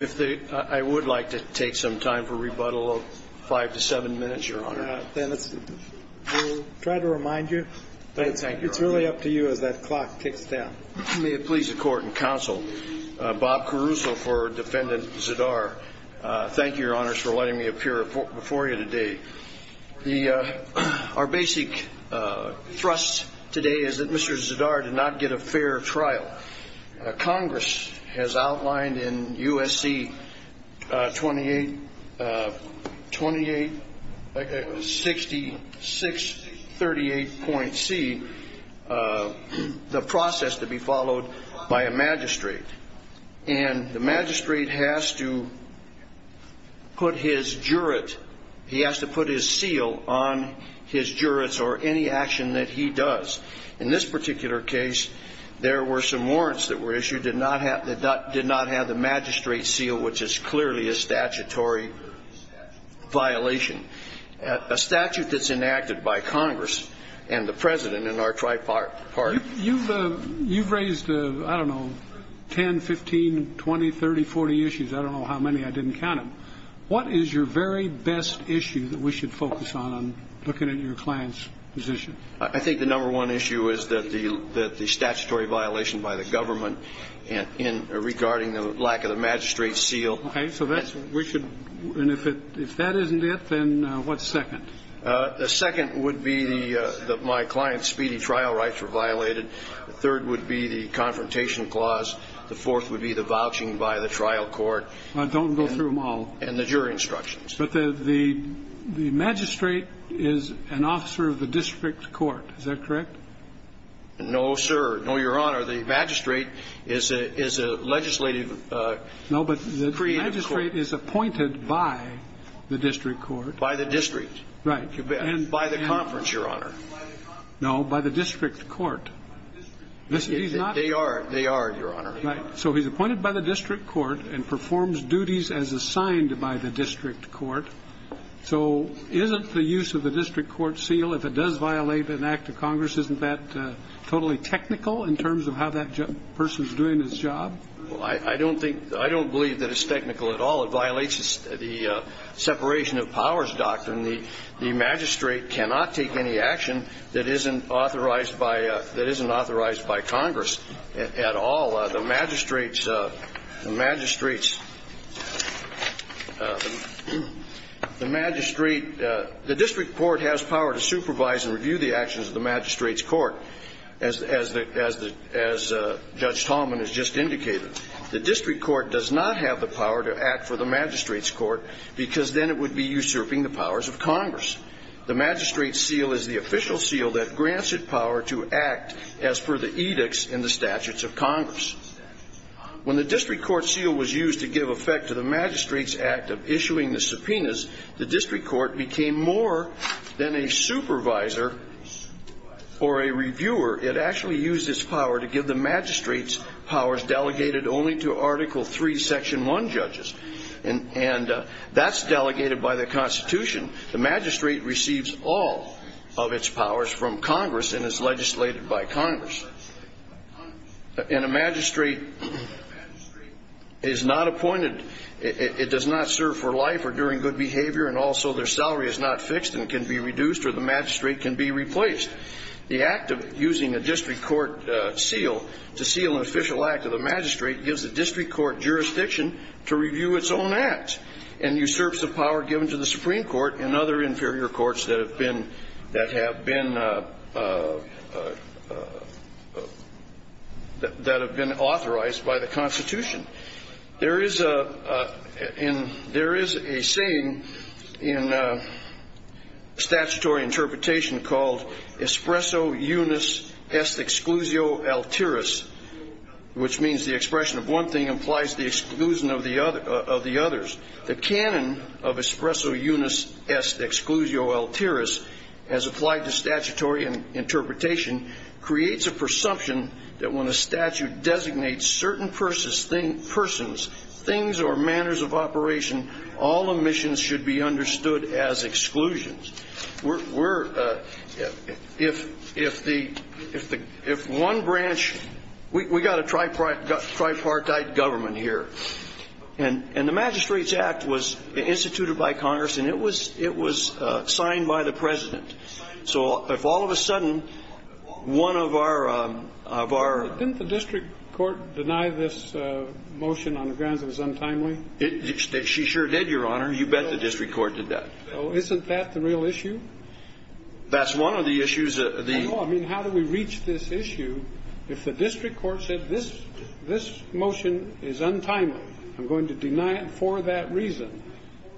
If they, I would like to take some time for rebuttal of five to seven minutes, your honor. Then let's try to remind you that it's really up to you as that clock ticks down. May it please the court and counsel. Bob Caruso for defendant Zidar. Thank you, your honors, for letting me appear before you today. The, our basic thrust today is that Mr. Zidar did not get a fair trial. Congress has outlined in USC 28, 28, 6638.C, the process to be followed by a magistrate. And the magistrate has to put his jurate, he has to put his seal on his jurates or any action that he does. In this particular case, there were some warrants that were issued, did not have, did not have the magistrate seal, which is clearly a statutory violation. A statute that's enacted by Congress and the president and our tripartite party. You've, you've raised, I don't know, 10, 15, 20, 30, 40 issues. I don't know how many. I didn't count them. What is your very best issue that we should focus on, on looking at your client's position? I think the number one issue is that the, that the statutory violation by the government in regarding the lack of the magistrate seal. Okay. So that's, we should, and if it, if that isn't it, then what's second? The second would be the, that my client's speedy trial rights were violated. The third would be the confrontation clause. The fourth would be the vouching by the trial court. Don't go through them all. And the jury instructions. But the, the, the magistrate is an officer of the district court. Is that correct? No, sir. No, Your Honor. The magistrate is a, is a legislative. No, but the magistrate is appointed by the district court. By the district. Right. And by the conference, Your Honor. No, by the district court. They are, they are, Your Honor. Right. So he's appointed by the district court and performs duties as assigned by the district court. So isn't the use of the district court seal, if it does violate an act of Congress, isn't that totally technical in terms of how that person's doing his job? Well, I don't think, I don't believe that it's technical at all. It violates the separation of powers doctrine. The magistrate cannot take any action that isn't authorized by, that isn't authorized by Congress at all. The magistrate's, the magistrate's The magistrate, the district court has power to supervise and review the actions of the magistrate's court, as, as the, as the, as Judge Tallman has just indicated. The district court does not have the power to act for the magistrate's court, because then it would be usurping the powers of Congress. The magistrate's seal is the official seal that grants it power to act as per the edicts and the statutes of Congress. When the district court seal was used to give effect to the magistrate's act of issuing the subpoenas, the district court became more than a supervisor or a reviewer. It actually used its power to give the magistrate's powers delegated only to Article III, Section 1 judges. And, and that's delegated by the Constitution. The magistrate receives all of its powers from Congress and is legislated by Congress. And a magistrate, a magistrate is not appointed, it, it, it does not serve for life or during good behavior, and also their salary is not fixed and can be reduced, or the magistrate can be replaced. The act of using a district court seal to seal an official act of the magistrate gives the district court jurisdiction to review its own acts and usurps the power given to the Supreme Court and other inferior courts that have been, that have been, that have been authorized by the Constitution. There is a, in, there is a saying in statutory interpretation called espresso unis est exclusio alteris, which means the expression of one thing implies the exclusion of the other, of the others. The canon of espresso unis est exclusio alteris, as applied to statutory interpretation, creates a presumption that when a statute designates certain persons, things or manners of operation, all omissions should be understood as exclusions. We're, we're, if, if the, if the, if one branch, we, we got a tripartite, tripartite government here. And, and the magistrate's discretion was instituted by Congress, and it was, it was signed by the President. So if all of a sudden, one of our, of our ---- Didn't the district court deny this motion on the grounds it was untimely? It, it, she sure did, Your Honor. You bet the district court did that. Well, isn't that the real issue? That's one of the issues that the ---- No, I mean, how do we reach this issue if the district court said this, this motion is untimely? I'm going to deny it for that reason.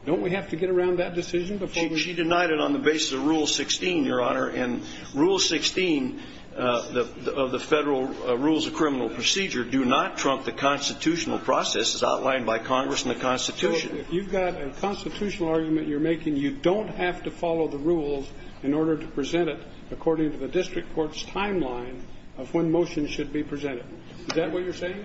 Don't we have to get around that decision before we ---- She, she denied it on the basis of Rule 16, Your Honor. And Rule 16, the, of the Federal Rules of Criminal Procedure, do not trump the constitutional process as outlined by Congress and the Constitution. So if you've got a constitutional argument you're making, you don't have to follow the rules in order to present it according to the district court's timeline of when the motion should be presented. Is that what you're saying?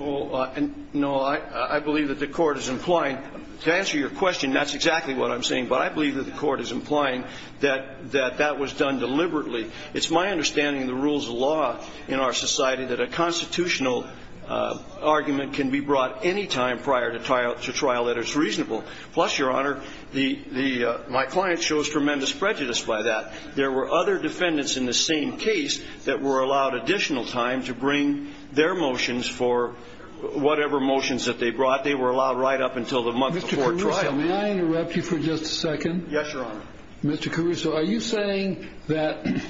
Oh, no. I, I believe that the Court is implying, to answer your question, that's exactly what I'm saying. But I believe that the Court is implying that, that that was done deliberately. It's my understanding in the rules of law in our society that a constitutional argument can be brought any time prior to trial, to trial that it's reasonable. Plus, Your Honor, the, the, my client shows tremendous prejudice by that. There were other defendants in the same case that were allowed additional time to bring their motions for whatever motions that they brought. They were allowed right up until the month before trial. Mr. Caruso, may I interrupt you for just a second? Yes, Your Honor. Mr. Caruso, are you saying that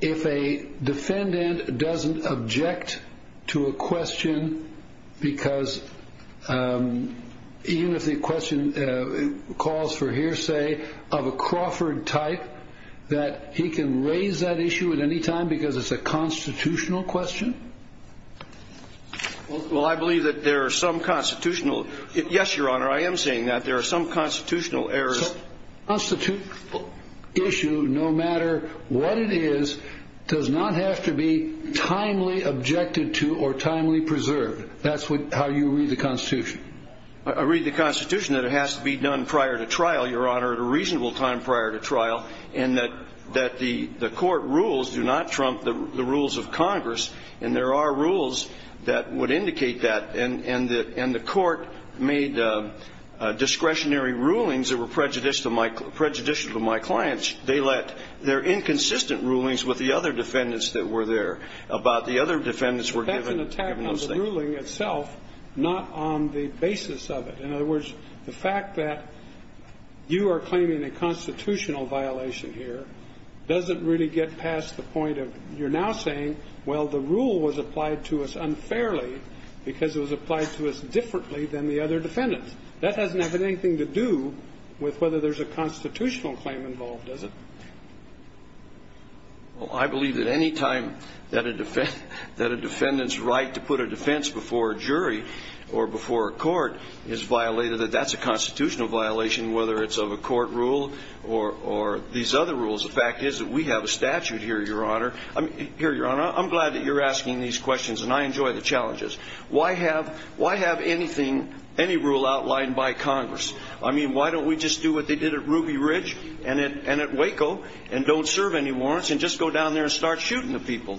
if a defendant doesn't object to a question because, even if the question calls for hearsay of a Crawford type, the defendant can raise that issue at any time because it's a constitutional question? Well, I believe that there are some constitutional, yes, Your Honor, I am saying that there are some constitutional errors. A constitutional issue, no matter what it is, does not have to be timely objected to or timely preserved. That's what, how you read the Constitution. I read the Constitution that it has to be done prior to trial, Your Honor, at a time when the defendant is not going to be able to raise that issue at any time. And that, that the, the court rules do not trump the, the rules of Congress, and there are rules that would indicate that. And, and the, and the court made discretionary rulings that were prejudicial to my, prejudicial to my clients. They let their inconsistent rulings with the other defendants that were there about the other defendants were given, given those things. In other words, the fact that you are claiming a constitutional violation here doesn't really get past the point of you're now saying, well, the rule was applied to us unfairly because it was applied to us differently than the other defendants. That doesn't have anything to do with whether there's a constitutional claim involved, does it? Well, I believe that anytime that a defendant, that a defendant's right to put a defense before a jury or before a court is violated, that that's a constitutional violation, whether it's of a court rule or these other rules. The fact is that we have a statute here, Your Honor. I'm glad that you're asking these questions, and I enjoy the challenges. Why have any rule outlined by Congress? I mean, why don't we just do what they did at Ruby Ridge and at Waco and don't serve any warrants and just go down there and start shooting the people?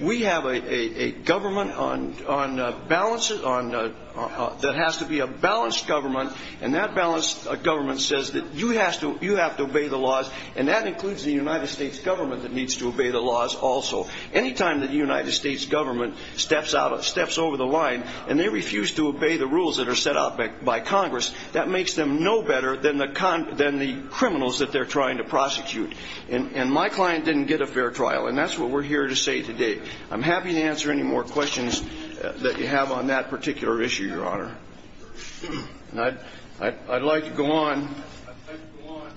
We have a government that has to be a balanced government, and that balanced government says that you have to obey the laws, and that includes the United States government that needs to obey the laws also. Anytime that the United States government steps over the line and they refuse to obey the rules that are set out by Congress, that makes them no better than the criminals that they're trying to prosecute. And my client didn't get a fair trial, and that's what we're here to say today. I'm happy to answer any more questions that you have on that particular issue, Your Honor. I'd like to go on,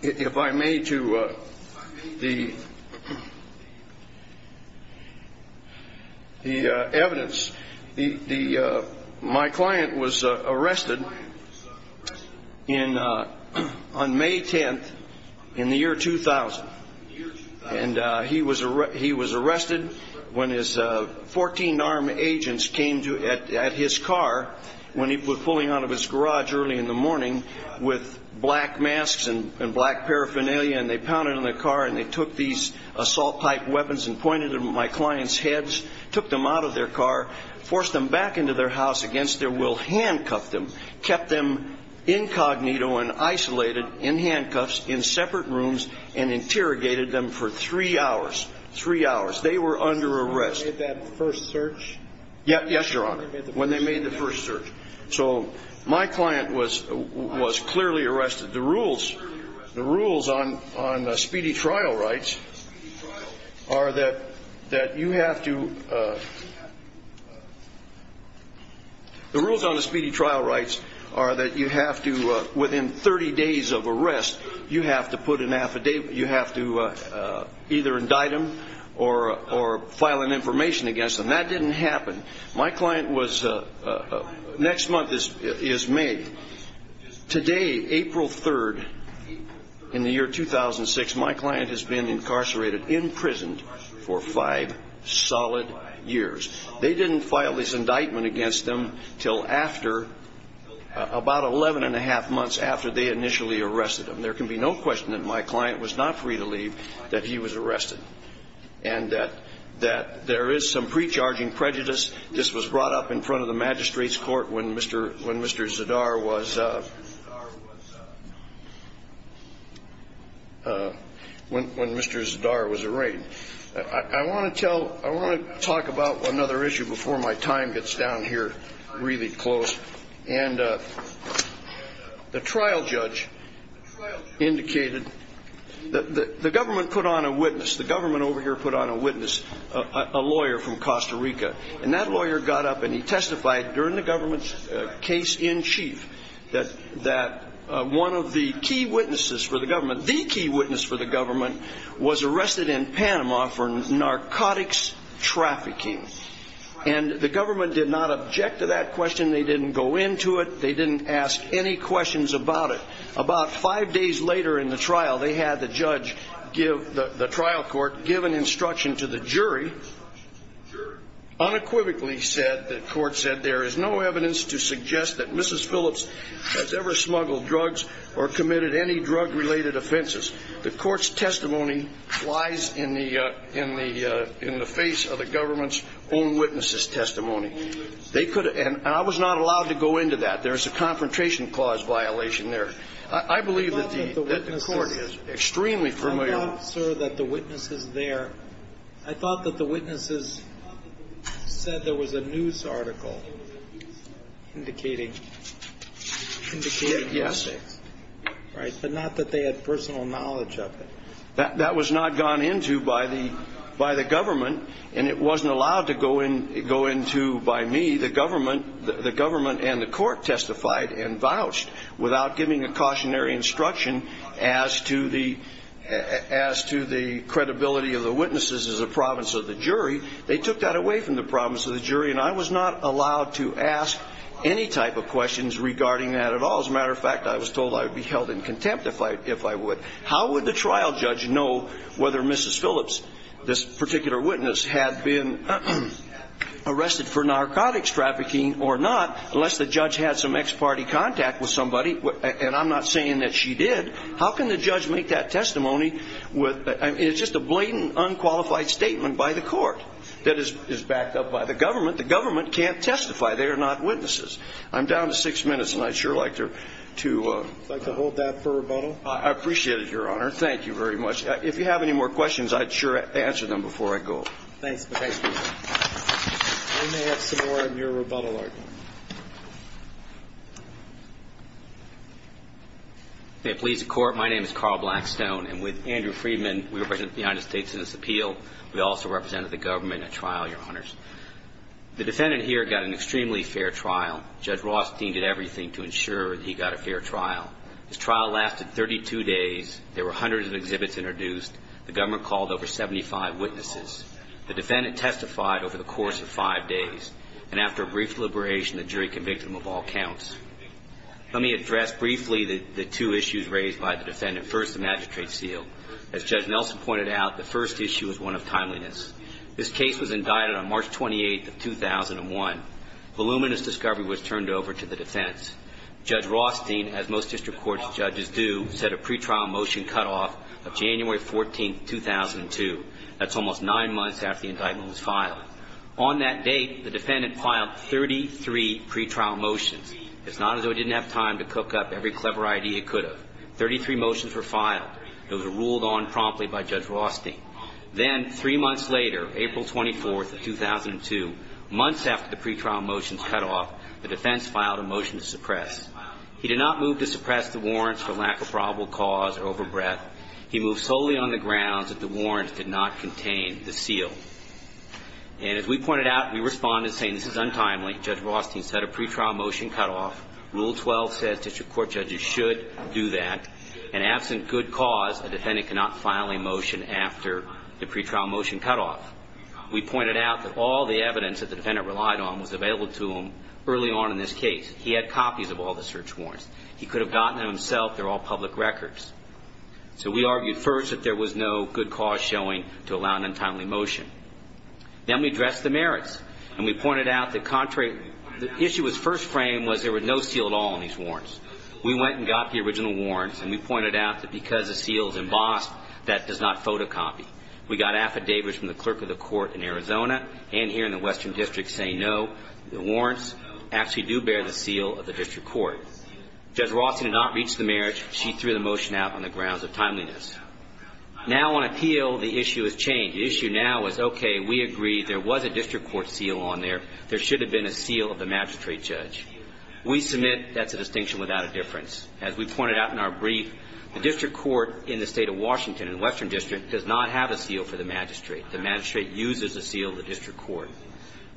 if I may, to the evidence. My client was arrested on May 10th in the year 2000, and he was arrested when his 14 armed agents came at his car when he was pulling out of his garage early in the morning with black masks and black paraphernalia, and they pounded on the car and they took these assault-type weapons and pointed them at my client's heads, took them out of their car, forced them back into their house against their will, handcuffed them, kept them incognito and isolated in handcuffs in separate rooms and interrogated them for three hours. Three hours. They were under arrest. When they made that first search? Yes, Your Honor, when they made the first search. So my client was clearly arrested. The rules on speedy trial rights are that you have to, the rules on speedy trial rights are that you have to, within 30 days of arrest, you have to put an affidavit, you have to either indict them or file an information against them. That didn't happen. My client was, next month is May. Today, April 3rd, in the year 2006, my client has been incarcerated, imprisoned for five solid years. They didn't file this indictment against them until after, about 11 1⁄2 months after they initially arrested him. There can be no question that my client was not free to leave that he was arrested and that there is some pre-charging prejudice. This was brought up in front of the magistrate's court when Mr. Zadar was arraigned. I want to talk about another issue before my time gets down here really close. The trial judge indicated, the government put on a witness, a lawyer from Costa Rica. And that lawyer got up and he testified during the government's case in chief that one of the key witnesses for the government, the key witness for the government, was arrested in Panama for narcotics trafficking. And the government did not object to that question. They didn't go into it. They didn't ask any questions about it. About five days later in the trial, they had the judge give, the trial court, give an instruction to the jury, unequivocally said, the court said, there is no evidence to suggest that Mrs. Phillips has ever smuggled drugs or committed any drug-related offenses. The court's testimony lies in the face of the government's own witnesses' testimony. And I was not allowed to go into that. There's a confrontation clause violation there. I believe that the court is extremely familiar. I thought, sir, that the witnesses there, I thought that the witnesses said there was a news article indicating, indicating. Yes. Right? But not that they had personal knowledge of it. That was not gone into by the government, and it wasn't allowed to go into by me. The government and the court testified and vouched without giving a cautionary instruction as to the credibility of the witnesses as a province of the jury. They took that away from the province of the jury, and I was not allowed to ask any type of questions regarding that at all. As a matter of fact, I was told I would be held in contempt if I would. How would the trial judge know whether Mrs. Phillips, this particular witness, had been arrested for narcotics trafficking or not, unless the judge had some ex-party contact with somebody? And I'm not saying that she did. How can the judge make that testimony? It's just a blatant, unqualified statement by the court that is backed up by the government. The government can't testify. They are not witnesses. I'm down to six minutes, and I'd sure like to hold that for rebuttal. I appreciate it, Your Honor. Thank you very much. If you have any more questions, I'd sure answer them before I go. Thanks. We may have some more in your rebuttal argument. May it please the Court, my name is Carl Blackstone, and with Andrew Friedman, we represent the United States in this appeal. We also represent the government in a trial, Your Honors. The defendant here got an extremely fair trial. Judge Rothstein did everything to ensure that he got a fair trial. His trial lasted 32 days. There were hundreds of exhibits introduced. The government called over 75 witnesses. The defendant testified over the course of five days. And after a brief deliberation, the jury convicted him of all counts. Let me address briefly the two issues raised by the defendant. First, the magistrate seal. As Judge Nelson pointed out, the first issue is one of timeliness. This case was indicted on March 28th of 2001. Voluminous discovery was turned over to the defense. Judge Rothstein, as most district court judges do, set a pretrial motion cutoff of January 14th, 2002. That's almost nine months after the indictment was filed. On that date, the defendant filed 33 pretrial motions. It's not as though he didn't have time to cook up every clever idea he could have. Thirty-three motions were filed. Those were ruled on promptly by Judge Rothstein. Then, three months later, April 24th of 2002, months after the pretrial motions cutoff, the defense filed a motion to suppress. He did not move to suppress the warrants for lack of probable cause or overbreath. He moved solely on the grounds that the warrants did not contain the seal. And as we pointed out, we responded saying this is untimely. Judge Rothstein set a pretrial motion cutoff. Rule 12 says district court judges should do that. And absent good cause, a defendant cannot file a motion after the pretrial motion cutoff. We pointed out that all the evidence that the defendant relied on was available to him early on in this case. He had copies of all the search warrants. He could have gotten them himself. They're all public records. So we argued first that there was no good cause showing to allow an untimely motion. Then we addressed the merits, and we pointed out the contrary. The issue at first frame was there was no seal at all on these warrants. We went and got the original warrants, and we pointed out that because the seal is embossed, that does not photocopy. We got affidavits from the clerk of the court in Arizona and here in the Western District saying no, the warrants actually do bear the seal of the district court. Judge Rothstein did not reach the merits. She threw the motion out on the grounds of timeliness. Now on appeal, the issue has changed. The issue now is, okay, we agree there was a district court seal on there. There should have been a seal of the magistrate judge. We submit that's a distinction without a difference. As we pointed out in our brief, the district court in the State of Washington in the Western District does not have a seal for the magistrate. The magistrate uses a seal of the district court.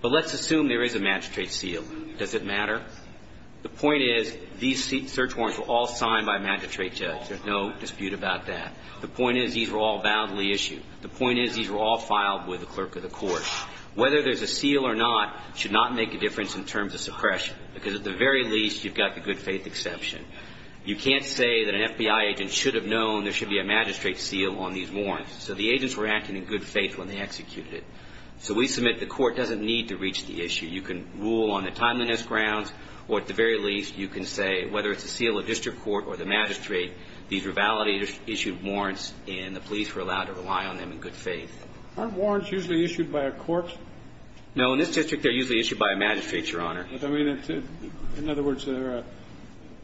But let's assume there is a magistrate seal. Does it matter? The point is these search warrants were all signed by a magistrate judge. There's no dispute about that. The point is these were all validly issued. The point is these were all filed with the clerk of the court. Whether there's a seal or not should not make a difference in terms of suppression because at the very least you've got the good faith exception. You can't say that an FBI agent should have known there should be a magistrate seal on these warrants. So the agents were acting in good faith when they executed it. So we submit the court doesn't need to reach the issue. You can rule on the timeliness grounds, or at the very least, you can say whether it's a seal of district court or the magistrate, these were validly issued warrants and the police were allowed to rely on them in good faith. Aren't warrants usually issued by a court? No. In this district, they're usually issued by a magistrate, Your Honor. But, I mean, in other words,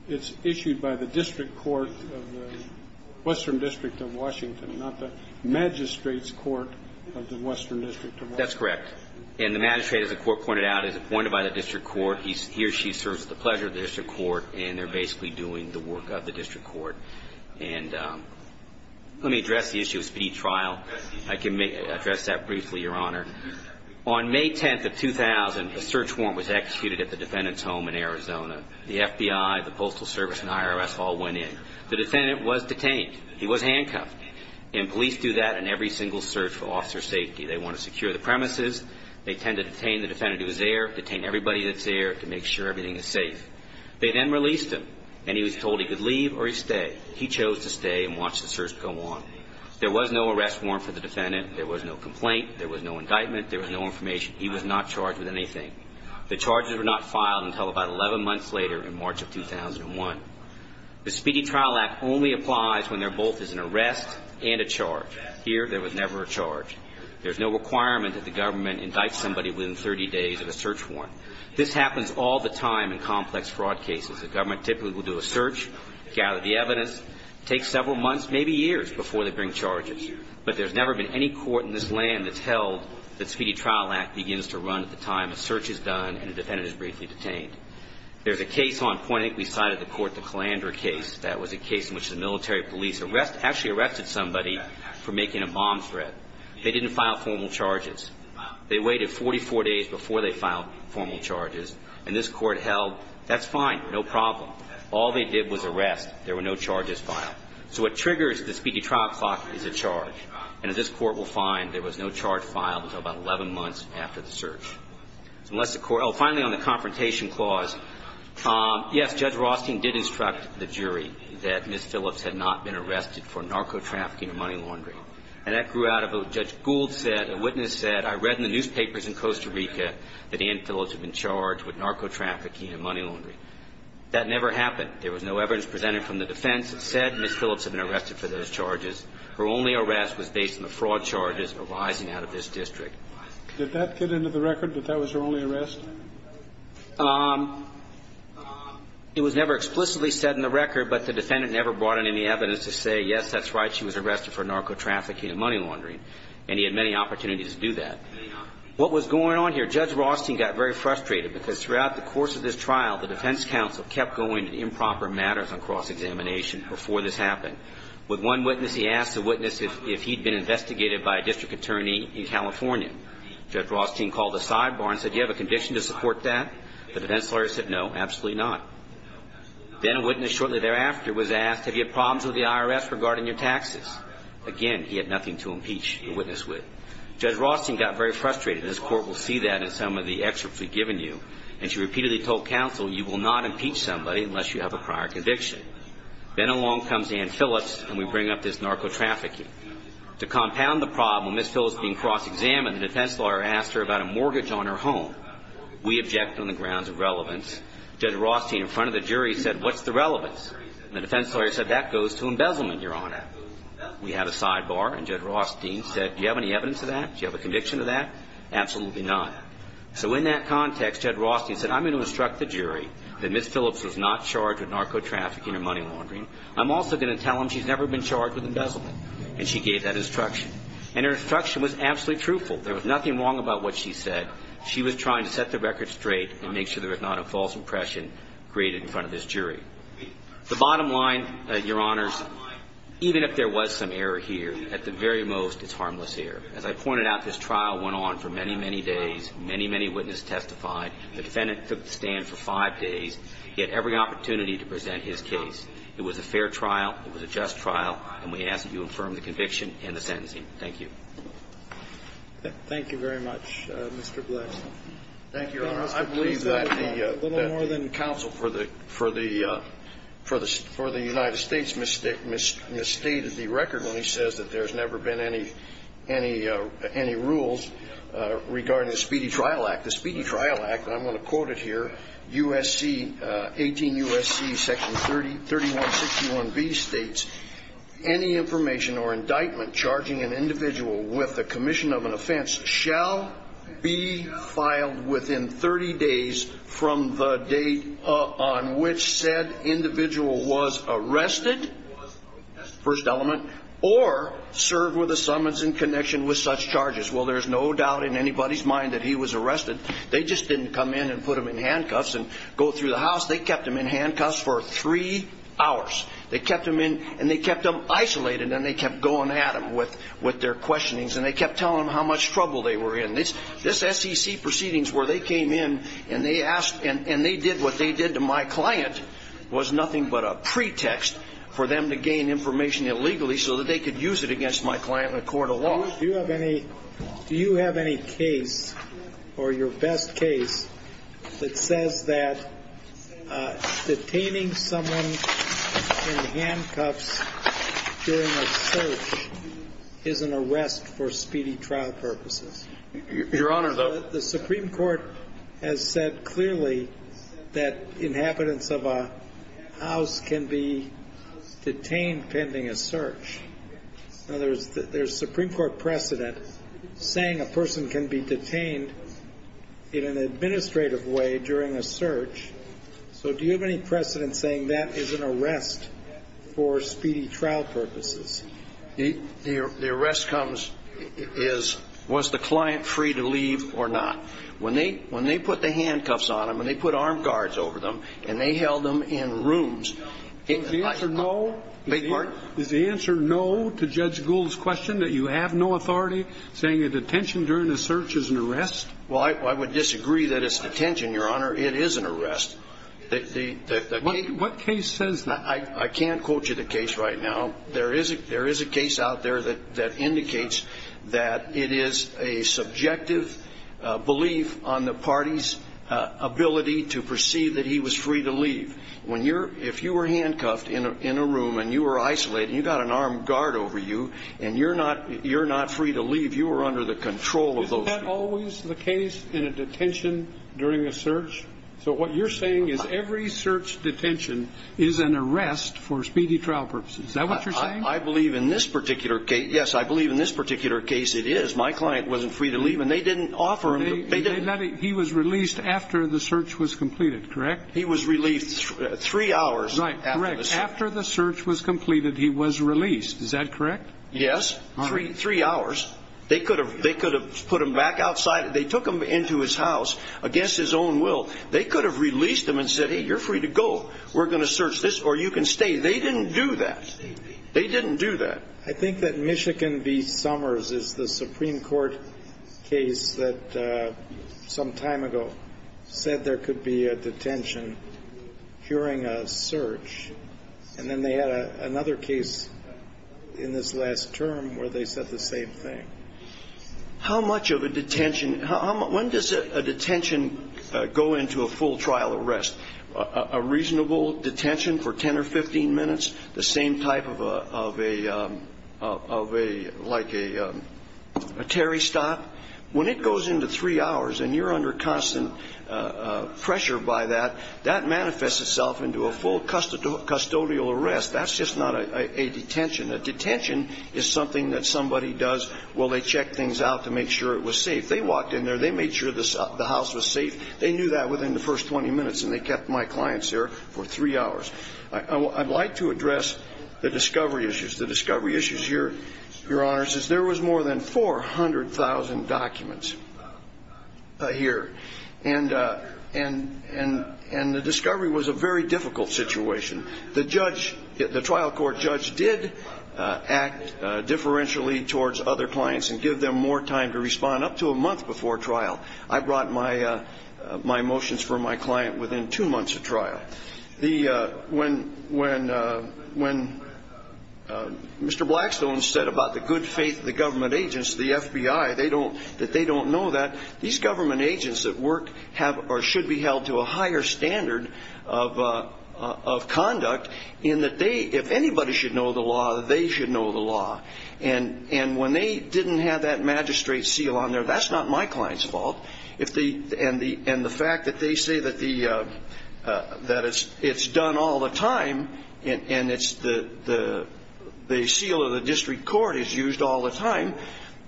it's issued by the district court of the Western District of Washington, not the magistrate's court of the Western District of Washington. That's correct. And the magistrate, as the court pointed out, is appointed by the district court. He or she serves at the pleasure of the district court and they're basically doing the work of the district court. And let me address the issue of speed trial. I can address that briefly, Your Honor. On May 10th of 2000, a search warrant was executed at the defendant's home in Arizona. The FBI, the Postal Service, and the IRS all went in. The defendant was detained. He was handcuffed. And police do that in every single search for officer safety. They want to secure the premises. They tend to detain the defendant who is there, detain everybody that's there to make sure everything is safe. They then released him, and he was told he could leave or he stay. He chose to stay and watch the search go on. There was no arrest warrant for the defendant. There was no complaint. There was no indictment. There was no information. He was not charged with anything. The charges were not filed until about 11 months later in March of 2001. The Speedy Trial Act only applies when there both is an arrest and a charge. Here, there was never a charge. There's no requirement that the government indict somebody within 30 days of a search warrant. This happens all the time in complex fraud cases. The government typically will do a search, gather the evidence, take several months, maybe years, before they bring charges. But there's never been any court in this land that's held that Speedy Trial Act begins to run at the time a search is done and a defendant is briefly detained. There's a case on point. I think we cited the court, the Calandra case. That was a case in which the military police actually arrested somebody for making a bomb threat. They didn't file formal charges. They waited 44 days before they filed formal charges. And this court held, that's fine, no problem. All they did was arrest. There were no charges filed. So what triggers the Speedy Trial Clock is a charge. And as this court will find, there was no charge filed until about 11 months after the search. Finally, on the confrontation clause, yes, Judge Rothstein did instruct the jury that Ms. Phillips had not been arrested for narco-trafficking and money laundering. And that grew out of what Judge Gould said. A witness said, I read in the newspapers in Costa Rica that Ann Phillips had been charged with narco-trafficking and money laundering. That never happened. There was no evidence presented from the defense that said Ms. Phillips had been arrested for those charges. Her only arrest was based on the fraud charges arising out of this district. Did that get into the record, that that was her only arrest? It was never explicitly said in the record, but the defendant never brought in any evidence to say, yes, that's right, she was arrested for narco-trafficking and money laundering. And he had many opportunities to do that. What was going on here? Judge Rothstein got very frustrated because throughout the course of this trial, the defense counsel kept going to improper matters on cross-examination before this happened. With one witness, he asked the witness if he'd been investigated by a district attorney in California. Judge Rothstein called a sidebar and said, do you have a conviction to support that? The defense lawyer said, no, absolutely not. Then a witness shortly thereafter was asked, have you had problems with the IRS regarding your taxes? Again, he had nothing to impeach the witness with. Judge Rothstein got very frustrated. This Court will see that in some of the excerpts we've given you. And she repeatedly told counsel, you will not impeach somebody unless you have a prior conviction. Then along comes Ann Phillips, and we bring up this narco-trafficking. To compound the problem, Miss Phillips being cross-examined, the defense lawyer asked her about a mortgage on her home. We object on the grounds of relevance. Judge Rothstein, in front of the jury, said, what's the relevance? And the defense lawyer said, that goes to embezzlement, Your Honor. We had a sidebar, and Judge Rothstein said, do you have any evidence of that? Do you have a conviction of that? Absolutely not. So in that context, Judge Rothstein said, I'm going to instruct the jury that Miss Phillips was not charged with narco-trafficking or money laundering. I'm also going to tell them she's never been charged with embezzlement. And she gave that instruction. And her instruction was absolutely truthful. There was nothing wrong about what she said. She was trying to set the record straight and make sure there was not a false impression created in front of this jury. The bottom line, Your Honors, even if there was some error here, at the very most, it's harmless error. As I pointed out, this trial went on for many, many days. Many, many witnesses testified. The defendant took the stand for five days. He had every opportunity to present his case. It was a fair trial. It was a just trial. And we ask that you affirm the conviction and the sentencing. Thank you. Thank you very much, Mr. Blex. Thank you, Your Honors. I believe that the counsel for the United States misstated the record when he says that there's never been any rules regarding the Speedy Trial Act. The Speedy Trial Act, and I'm going to quote it here, USC, 18 U.S.C. section 3161B states, Any information or indictment charging an individual with the commission of an offense shall be filed within 30 days from the date on which said individual was arrested, first element, or served with a summons in connection with such charges. Well, there's no doubt in anybody's mind that he was arrested. They just didn't come in and put him in handcuffs and go through the house. They kept him in handcuffs for three hours. They kept him in, and they kept him isolated, and they kept going at him with their questionings, and they kept telling him how much trouble they were in. This SEC proceedings where they came in and they did what they did to my client was nothing but a pretext for them to gain information illegally so that they could use it against my client in a court of law. Do you have any case or your best case that says that detaining someone in handcuffs during a search is an arrest for speedy trial purposes? Your Honor, the Supreme Court has said clearly that inhabitants of a house can be detained pending a search. Now, there's Supreme Court precedent saying a person can be detained in an administrative way during a search. So do you have any precedent saying that is an arrest for speedy trial purposes? The arrest comes as was the client free to leave or not? When they put the handcuffs on him and they put armed guards over them and they held him in rooms, is the answer no? Is the answer no to Judge Gould's question that you have no authority saying that detention during a search is an arrest? Well, I would disagree that it's detention, Your Honor. It is an arrest. What case says that? I can't quote you the case right now. There is a case out there that indicates that it is a subjective belief on the party's ability to perceive that he was free to leave. If you were handcuffed in a room and you were isolated and you got an armed guard over you and you're not free to leave, you were under the control of those people. Isn't that always the case in a detention during a search? So what you're saying is every search detention is an arrest for speedy trial purposes. Is that what you're saying? I believe in this particular case, yes, I believe in this particular case it is. My client wasn't free to leave and they didn't offer him. He was released after the search was completed, correct? He was released three hours. Right, correct. After the search was completed, he was released. Is that correct? Yes, three hours. They could have put him back outside. They took him into his house against his own will. They could have released him and said, hey, you're free to go. We're going to search this or you can stay. They didn't do that. They didn't do that. I think that Michigan v. Summers is the Supreme Court case that some time ago said there could be a detention during a search, and then they had another case in this last term where they said the same thing. How much of a detention, when does a detention go into a full trial arrest? A reasonable detention for 10 or 15 minutes, the same type of a, like a Terry stop? When it goes into three hours and you're under constant pressure by that, that manifests itself into a full custodial arrest. That's just not a detention. A detention is something that somebody does while they check things out to make sure it was safe. They walked in there. They made sure the house was safe. They knew that within the first 20 minutes, and they kept my clients there for three hours. I'd like to address the discovery issues. Your Honor, there was more than 400,000 documents here, and the discovery was a very difficult situation. The trial court judge did act differentially towards other clients and give them more time to respond, up to a month before trial. I brought my motions for my client within two months of trial. When Mr. Blackstone said about the good faith of the government agents, the FBI, that they don't know that, these government agents that work have or should be held to a higher standard of conduct in that they, if anybody should know the law, they should know the law. And when they didn't have that magistrate seal on there, that's not my client's fault. And the fact that they say that it's done all the time and the seal of the district court is used all the time,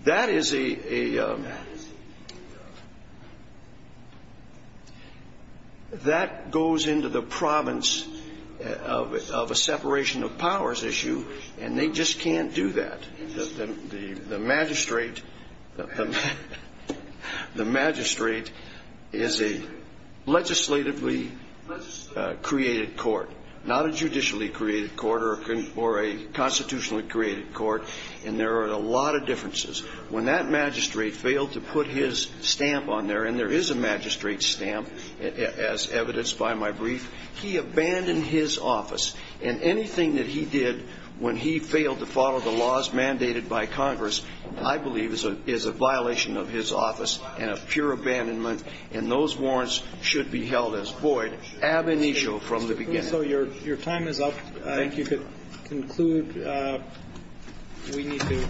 that goes into the province of a separation of powers issue, and they just can't do that. The magistrate is a legislatively created court, not a judicially created court or a constitutionally created court, and there are a lot of differences. When that magistrate failed to put his stamp on there, and there is a magistrate stamp, as evidenced by my brief, he abandoned his office. And anything that he did when he failed to follow the laws mandated by Congress, I believe, is a violation of his office and a pure abandonment, and those warrants should be held as void, ab initio, from the beginning. So your time is up. Thank you. I think you could conclude. We need to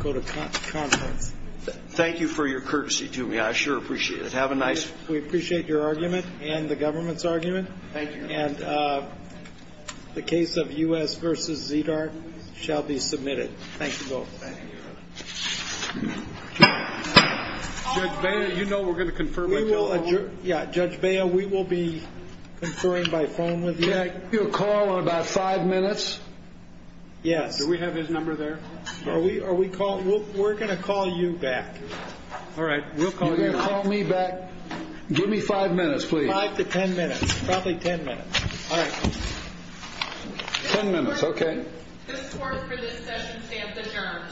go to conference. Thank you for your courtesy to me. I sure appreciate it. Have a nice. We appreciate your argument and the government's argument. Thank you. And the case of U.S. v. ZDART shall be submitted. Thank you both. Thank you. Judge Baya, you know we're going to confer. Yeah, Judge Baya, we will be conferring by phone with you. Can I give you a call in about five minutes? Yes. Do we have his number there? We're going to call you back. All right. We'll call you back. Call me back. Give me five minutes, please. Five to ten minutes, probably ten minutes. All right. Ten minutes. Okay. This court for this session stands adjourned. This court is adjourned.